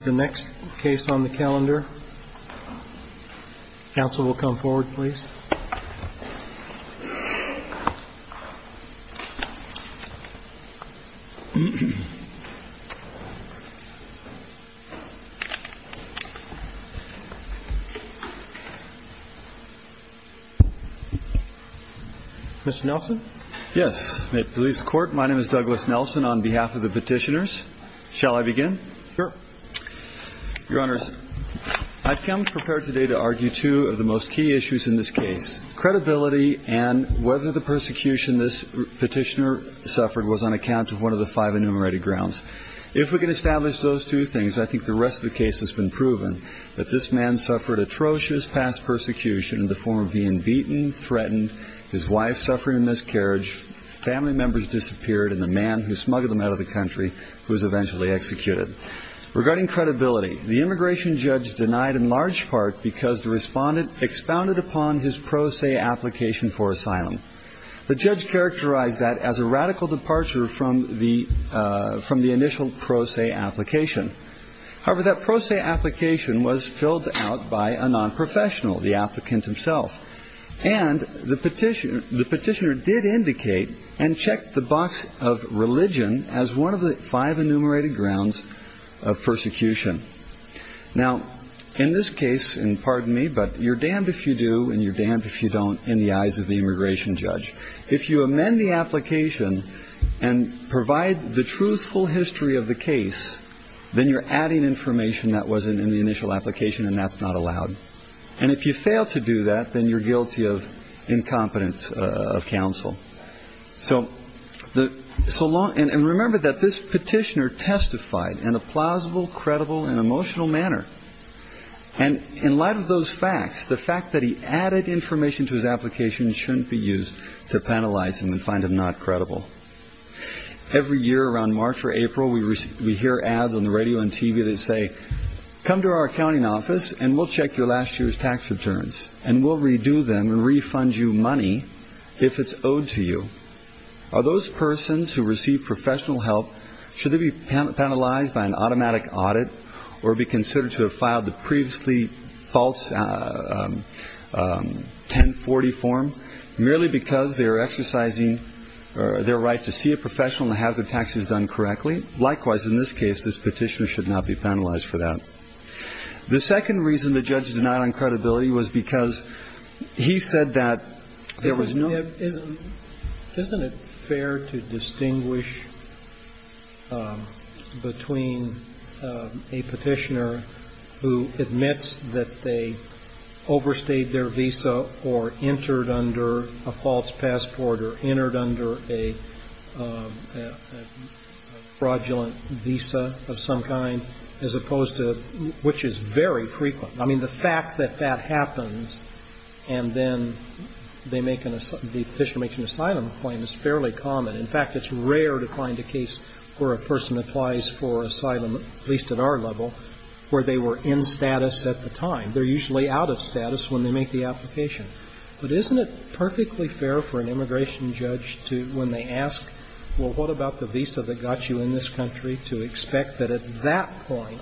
The next case on the calendar. Council will come forward, please. Mr. Nelson? Yes. Police court. My name is Douglas Nelson on behalf of the petitioners. Shall I begin? Sure. Your Honor, I've come prepared today to argue two of the most key issues in this case. Credibility and whether the persecution this petitioner suffered was on account of one of the five enumerated grounds. If we can establish those two things, I think the rest of the case has been proven that this man suffered atrocious past persecution in the form of being beaten, threatened, his wife suffering a miscarriage, family members disappeared, and the man who smuggled them out of the country who was eventually executed. Regarding credibility, the immigration judge denied in large part because the respondent expounded upon his pro se application for asylum. The judge characterized that as a radical departure from the initial pro se application. However, that pro se application was filled out by a non-professional, the applicant himself. And the petitioner did indicate and check the box of religion as one of the five enumerated grounds of persecution. Now, in this case, and pardon me, but you're damned if you do and you're damned if you don't in the eyes of the immigration judge. If you amend the application and provide the truthful history of the case, then you're adding information that wasn't in the initial application and that's not allowed. And if you fail to do that, then you're guilty of incompetence of counsel. So the so long and remember that this petitioner testified in a plausible, credible, and emotional manner. And in light of those facts, the fact that he added information to his application shouldn't be used to penalize him and find him not credible. Every year around March or April, we hear ads on the radio and TV that say, come to our accounting office and we'll check your last year's tax returns and we'll redo them and refund you money if it's owed to you. Are those persons who receive professional help, should they be penalized by an automatic audit or be considered to have filed the previously false 1040 form merely because they are exercising their right to see a professional and have their taxes done correctly? Likewise, in this case, this petitioner should not be penalized for that. The second reason the judge denied on credibility was because he said that there was no credibility. I mean, isn't it fair to distinguish between a petitioner who admits that they overstayed their visa or entered under a false passport or entered under a fraudulent visa of some kind, as opposed to, which is very frequent. I mean, the fact that that the petitioner makes an asylum claim is fairly common. In fact, it's rare to find a case where a person applies for asylum, at least at our level, where they were in status at the time. They're usually out of status when they make the application. But isn't it perfectly fair for an immigration judge to, when they ask, well, what about the visa that got you in this country, to expect that at that point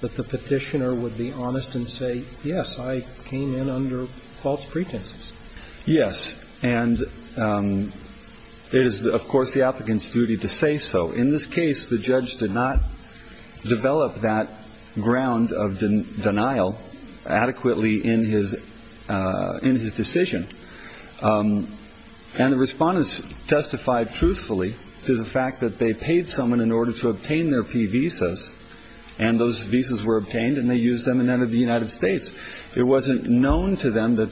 that the petitioner would be honest and say, yes, I came in under false pretenses? Yes. And it is, of course, the applicant's duty to say so. In this case, the judge did not develop that ground of denial adequately in his decision. And the respondents testified truthfully to the fact that they paid someone in order to obtain their P visas, and those visas were obtained, and they used them and entered the United States, and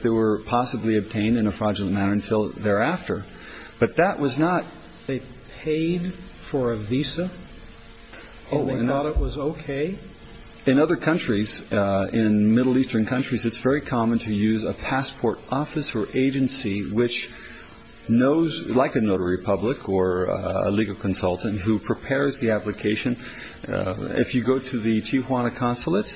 they were effectively obtained in a fraudulent manner until thereafter. But that was not they paid for a visa, and they thought it was okay? In other countries, in Middle Eastern countries, it's very common to use a passport office or agency which knows, like a notary public or a legal consultant who prepares the application. If you go to the Tijuana consulate,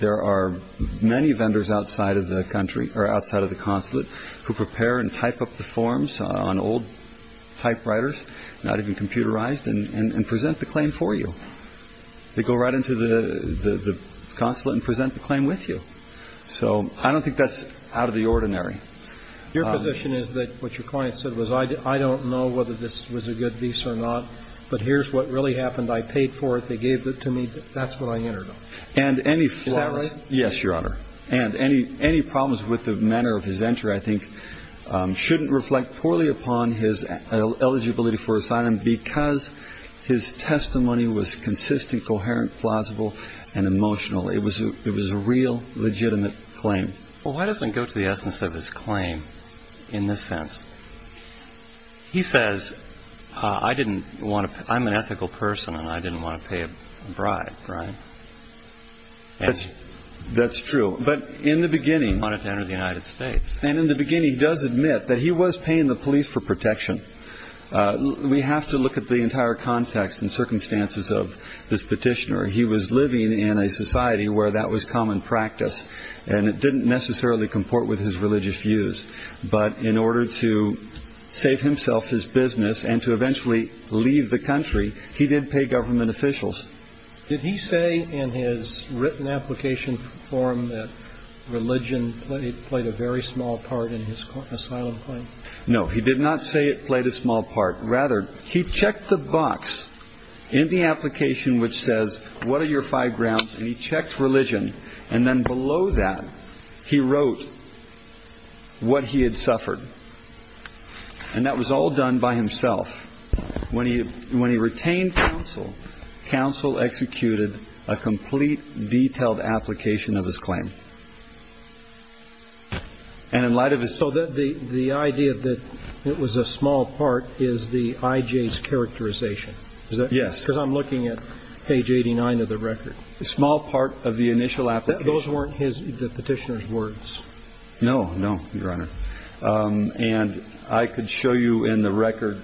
there are many vendors outside of the country, or outside of the consulate, who prepare and type up the forms on old typewriters, not even computerized, and present the claim for you. They go right into the consulate and present the claim with you. So I don't think that's out of the ordinary. Your position is that what your client said was, I don't know whether this was a good visa or not, but here's what really happened. I paid for it. They gave it to me. That's what I entered on. And any flaws -- Is that right? Yes, Your Honor. And any problems with the manner of his entry, I think, shouldn't reflect poorly upon his eligibility for asylum, because his testimony was consistent, coherent, plausible, and emotional. It was a real, legitimate claim. Well, why doesn't it go to the essence of his claim, in this sense? He says, I'm an That's true. But in the beginning -- He wanted to enter the United States. And in the beginning, he does admit that he was paying the police for protection. We have to look at the entire context and circumstances of this petitioner. He was living in a society where that was common practice, and it didn't necessarily comport with his religious views. But in order to save himself his business and to eventually leave the country, he did pay government officials. Did he say in his written application form that religion played a very small part in his asylum claim? No, he did not say it played a small part. Rather, he checked the box in the application, which says, what are your five grounds? And he checked religion. And then below that, he wrote what he had suffered. And that was all done by himself. When he retained counsel, counsel executed a complete, detailed application of his claim. And in light of his- So the idea that it was a small part is the I.J.'s characterization. Yes. Because I'm looking at page 89 of the record. A small part of the initial application. Those weren't the petitioner's words. No, no, Your Honor. And I could show you in the record.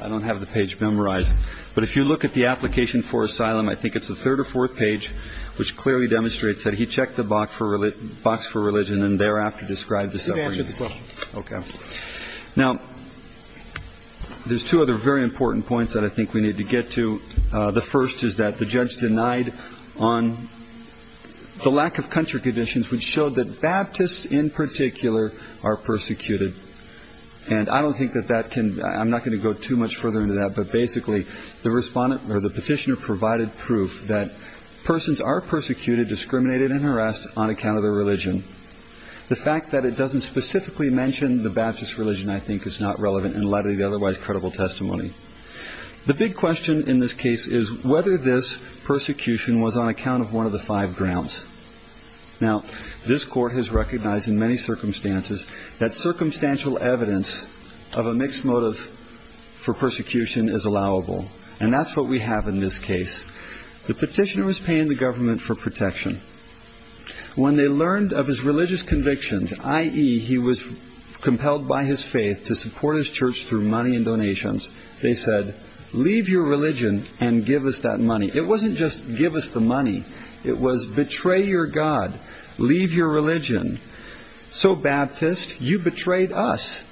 I don't have the page memorized. But if you look at the application for asylum, I think it's the third or fourth page, which clearly demonstrates that he checked the box for religion and thereafter described the suffering. You can answer the question. Okay. Now, there's two other very important points that I think we need to get to. The first is that the judge denied on the lack of country conditions, which showed that Baptists in particular are persecuted. And I don't think that that can- I'm not going to go too much further into that. But basically, the respondent or the petitioner provided proof that persons are persecuted, discriminated and harassed on account of their religion. The fact that it doesn't specifically mention the Baptist religion, I think, is not relevant in light of the otherwise credible testimony. The big question in this case is whether this persecution was on account of one of the five grounds. Now, this court has recognized in many circumstances that circumstantial evidence of a mixed motive for persecution is allowable. And that's what we have in this case. The petitioner was paying the government for protection. When they learned of his religious convictions, i.e. he was compelled by his faith to support his church through money and donations, they said, leave your religion and give us that money. It wasn't just give us the money. It was betray your God, leave your religion. So Baptist, you betrayed us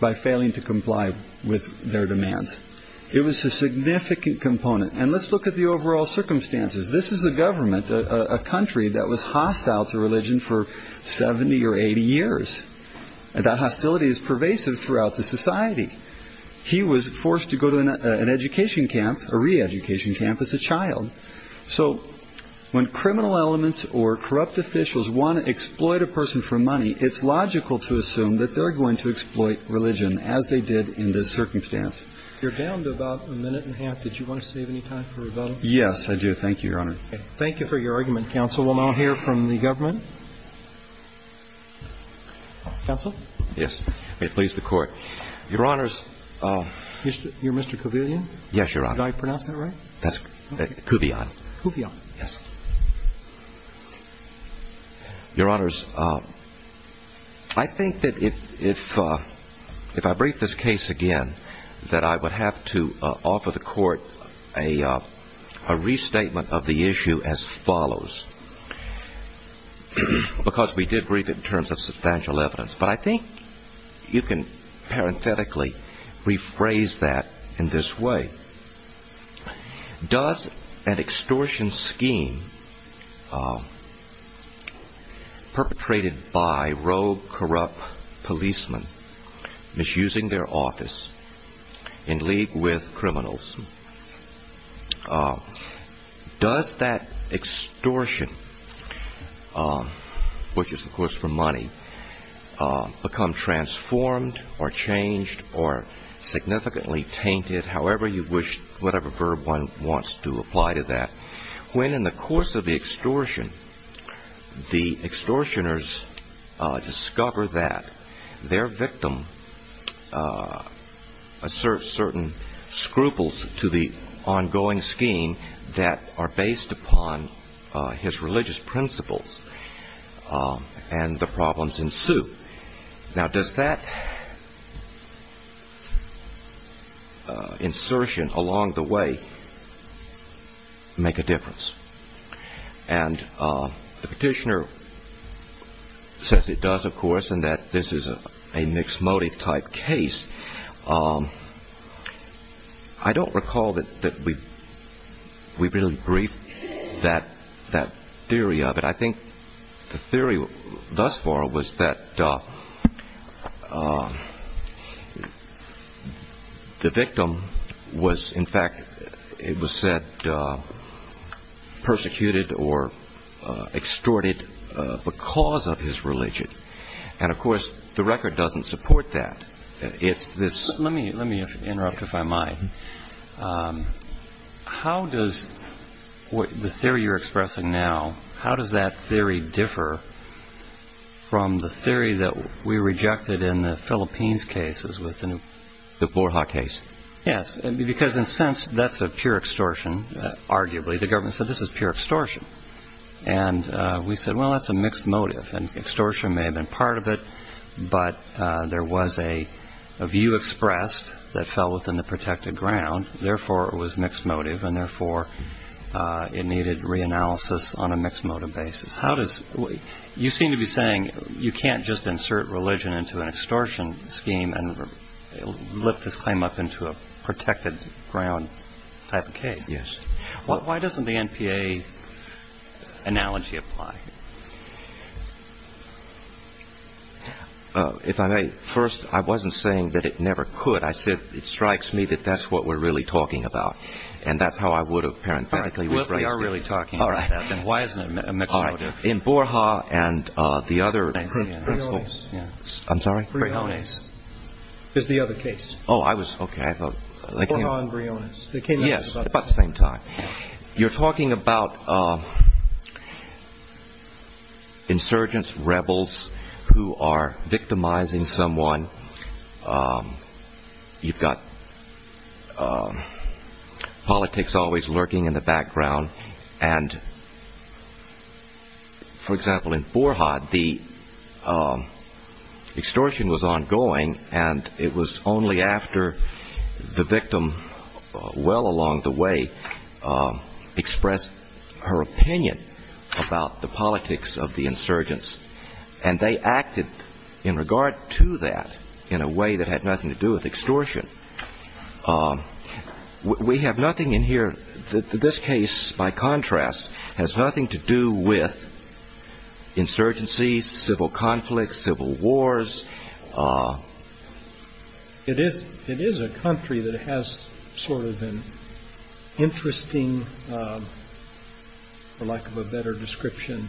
by failing to comply with their demands. It was a significant component. And let's look at the overall circumstances. This is a government, a country that was hostile to religion for 70 or 80 years. And that hostility is pervasive throughout the society. He was forced to go to an education camp, a re-education camp as a child. So when criminal elements or corrupt officials want to exploit a person for money, it's logical to assume that they're going to exploit religion as they did in this circumstance. You're down to about a minute and a half. Did you want to save any time for rebuttal? Yes, I do. Thank you, Your Honor. Thank you for your argument, counsel. We'll now hear from the government. Counsel? Yes. May it please the court. Your Honor, you're Mr. Kovillion? Yes, Your Honor. Did I pronounce that right? That's Kovillion. Kovillion. Yes. Your Honors, I think that if I brief this case again, that I would have to offer the court a restatement of the issue as follows, because we did brief it in terms of substantial evidence. But I think you can parenthetically rephrase that in this way. Does an extortion scheme perpetrated by rogue, corrupt policemen misusing their office in league with criminals, does that extortion, which is, of course, for money, become transformed or changed or significantly tainted, however you wish, whatever verb one wants to apply to that, when in the course of the extortion, the extortioners discover that their victim asserts certain scruples to the ongoing scheme that are based upon his religious principles and the problems ensue? Now, does that insertion along the way make a difference? And the petitioner says it does, of course, and that this is a mixed motive type case. I don't recall that we really briefed that theory of it. I think the theory thus far was that the victim was, in fact, it was said, persecuted or extorted because of his religion. And, of course, the record doesn't support that. It's this- Let me interrupt, if I might. How does the theory you're expressing now, how does that theory differ from the theory that we rejected in the Philippines cases with the- The Borja case. Yes, because in a sense, that's a pure extortion, arguably. The government said this is pure extortion. And we said, well, that's a mixed motive. And extortion may have been part of it, but there was a view expressed that fell within the protected ground. Therefore, it was mixed motive, and therefore, it needed reanalysis on a mixed motive basis. How does- You seem to be saying you can't just insert religion into an extortion scheme and lift this claim up into a protected ground type of case. Yes. Why doesn't the NPA analogy apply? If I may, first, I wasn't saying that it never could. I said it strikes me that that's what we're really talking about. And that's how I would have parenthetically- Well, if we are really talking about that, then why isn't it a mixed motive? In Borja and the other- I see. Briones. I'm sorry? Briones. Is the other case. Oh, I was- OK, I thought- Borja and Briones. Yes, about the same time. You're talking about insurgents, rebels who are victimizing someone. You've got politics always lurking in the background. And, for example, in Borja, the extortion was ongoing, and it was only after the victim, well along the way, expressed her opinion about the politics of the insurgents. And they acted in regard to that in a way that had nothing to do with extortion. We have nothing in here- this case, by contrast, has nothing to do with insurgencies, civil conflicts, civil wars. It is a country that has sort of an interesting, for lack of a better description,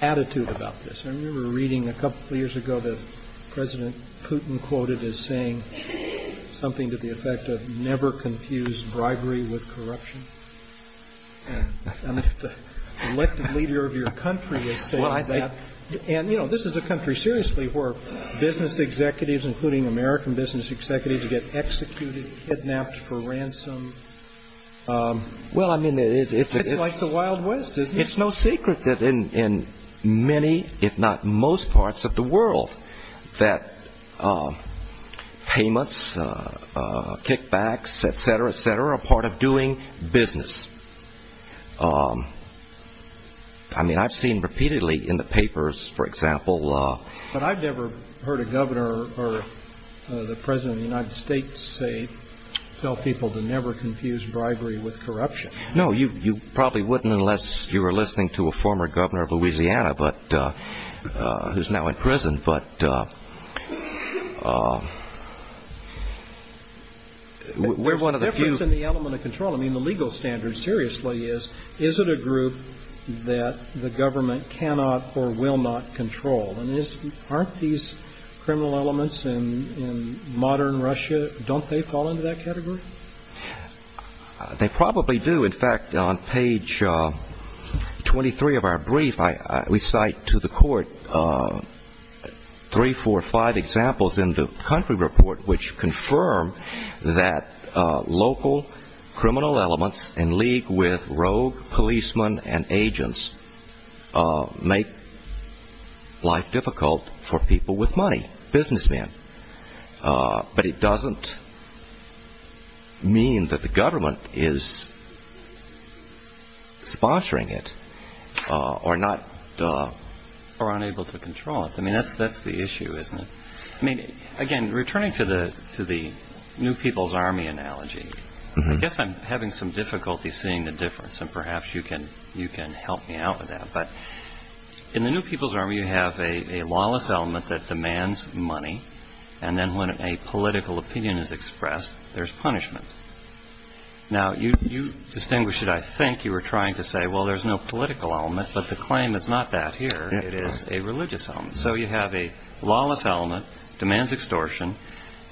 attitude about this. I remember reading a couple of years ago that President Putin quoted as saying something to the effect of, never confuse bribery with corruption. And the elected leader of your country is saying that. And, you know, this is a country, seriously, where business executives, including American business executives, get executed, kidnapped for ransom. Well, I mean, it's- It's no secret that in many, if not most, parts of the world that payments, kickbacks, et cetera, et cetera, are part of doing business. I mean, I've seen repeatedly in the papers, for example- But I've never heard a governor or the president of the United States say- tell people to never confuse bribery with corruption. No, you probably wouldn't unless you were listening to a former governor of Louisiana, but- who's now in prison. But we're one of the few- There's a difference in the element of control. I mean, the legal standard, seriously, is, is it a group that the government cannot or will not control? And aren't these criminal elements in modern Russia, don't they fall into that category? They probably do. In fact, on page 23 of our brief, we cite to the court three, four, five examples in the country report, which confirm that local criminal elements in league with rogue policemen and agents make life difficult for people with money, businessmen. But it doesn't mean that the government is sponsoring it or not- Or unable to control it. I mean, that's the issue, isn't it? I mean, again, returning to the New People's Army analogy, I guess I'm having some difficulty seeing the difference, and perhaps you can help me out with that. But in the New People's Army, you have a lawless element that demands money, and then when a political opinion is expressed, there's punishment. Now, you distinguished it, I think you were trying to say, well, there's no political element, but the claim is not that here, it is a religious element. So you have a lawless element, demands extortion,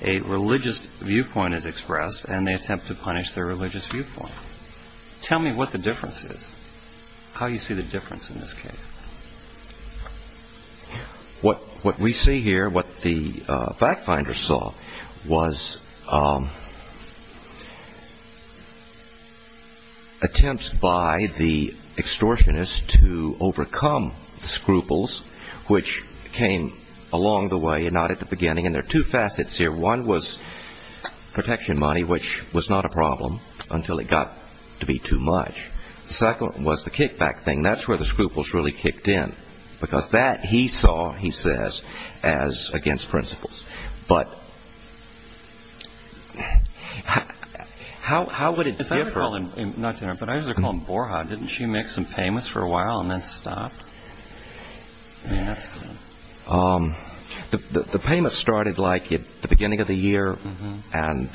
a religious viewpoint is expressed, and they attempt to punish their religious viewpoint. Tell me what the difference is. How do you see the difference in this case? What we see here, what the fact finders saw, was attempts by the extortionists to overcome the scruples, which came along the way and not at the beginning, and there are two facets here. One was protection money, which was not a problem until it got to be too much. The second was the kickback thing. That's where the scruples really kicked in, because that he saw, he says, as against principles. But how would it differ? I usually call him Borja. Didn't she make some payments for a while and then stop? The payments started like at the beginning of the year, and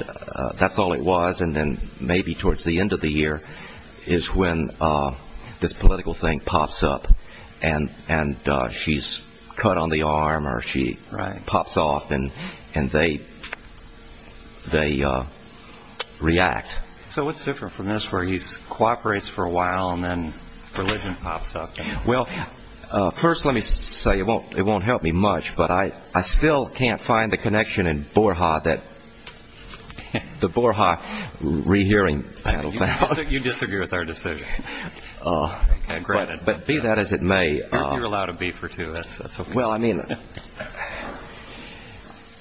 that's all it was, and then maybe towards the end of the year is when this political thing pops up and she's cut on the arm or she pops off and they react. So what's different from this where he cooperates for a while and then religion pops up? Well, first let me say, it won't help me much, but I still can't find the connection in Borja that the Borja rehearing panel found. You disagree with our decision. But be that as it may. You're allowed a beef or two. Well, I mean.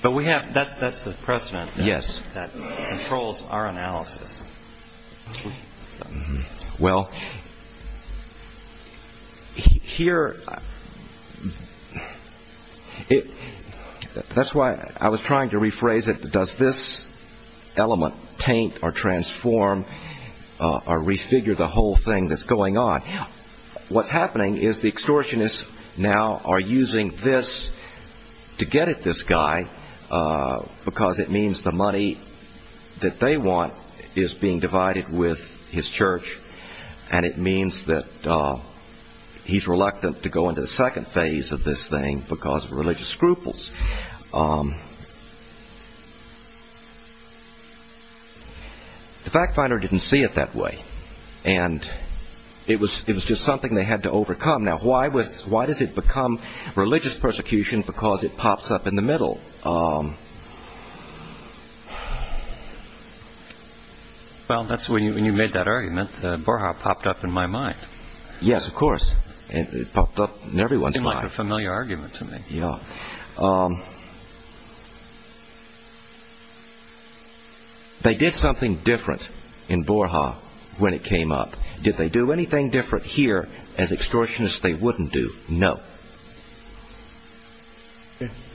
But that's the precedent that controls our analysis. Well, here, that's why I was trying to rephrase it. Does this element taint or transform or refigure the whole thing that's going on? What's happening is the extortionists now are using this to get at this guy because it means the money that they want is being divided with his church and it means that he's reluctant to go into the second phase of this thing because of religious scruples. The fact finder didn't see it that way, and it was just something they had to overcome. Now, why does it become religious persecution? Because it pops up in the middle. Well, that's when you made that argument. Borja popped up in my mind. Yes, of course. It popped up in everyone's mind. It's like a familiar argument to me. Yeah. They did something different in Borja when it came up. Did they do anything different here as extortionists they wouldn't do? No.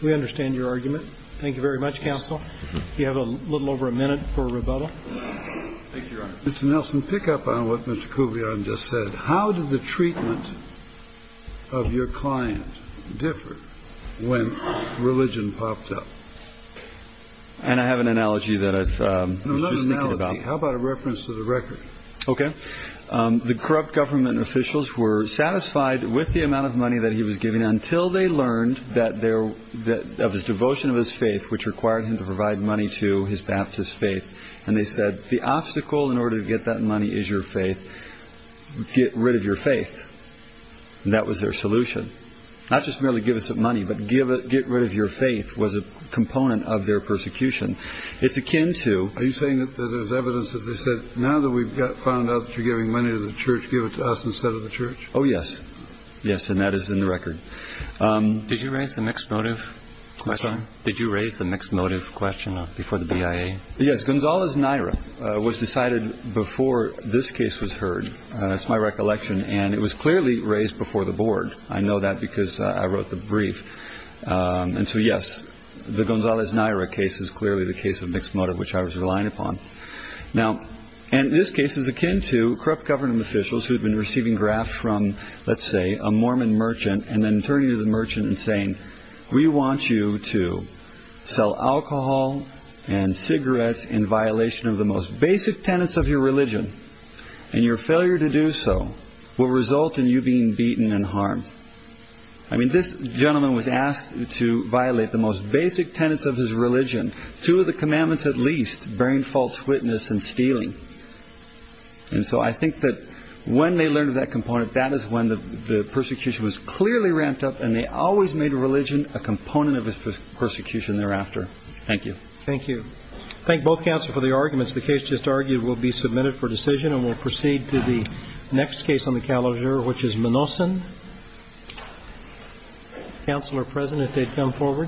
We understand your argument. Thank you very much, counsel. You have a little over a minute for rebuttal. Thank you, Your Honor. Mr. Nelson, pick up on what Mr. Kuvion just said. How did the treatment of your client differ when religion popped up? And I have an analogy that I was just thinking about. How about a reference to the record? Okay. The corrupt government officials were satisfied with the amount of money that he was giving until they learned of his devotion of his faith, which required him to provide money to his Baptist faith. And they said, the obstacle in order to get that money is your faith. Get rid of your faith. And that was their solution. Not just merely give us money, but get rid of your faith was a component of their persecution. Are you saying that there's evidence that they said, now that we've found out that you're giving money to the church, give it to us instead of the church? Oh, yes. Yes. And that is in the record. Did you raise the mixed motive question before the BIA? Yes. Gonzalez Naira was decided before this case was heard. That's my recollection. And it was clearly raised before the board. I know that because I wrote the brief. And so, yes, the Gonzalez Naira case is clearly the case of mixed motive, which I was relying upon. Now, and this case is akin to corrupt government officials who have been receiving grafts from, let's say, a Mormon merchant and then turning to the merchant and saying, we want you to sell alcohol and cigarettes in violation of the most basic tenets of your religion. And your failure to do so will result in you being beaten and harmed. I mean, this gentleman was asked to violate the most basic tenets of his religion, two of the commandments at least, bearing false witness and stealing. And so I think that when they learned of that component, that is when the persecution was clearly ramped up and they always made religion a component of his persecution thereafter. Thank you. Thank you. Thank both counsel for the arguments. The case just argued will be submitted for decision. We'll proceed to the next case on the calendar, which is Manoson. Counselor President, they've come forward.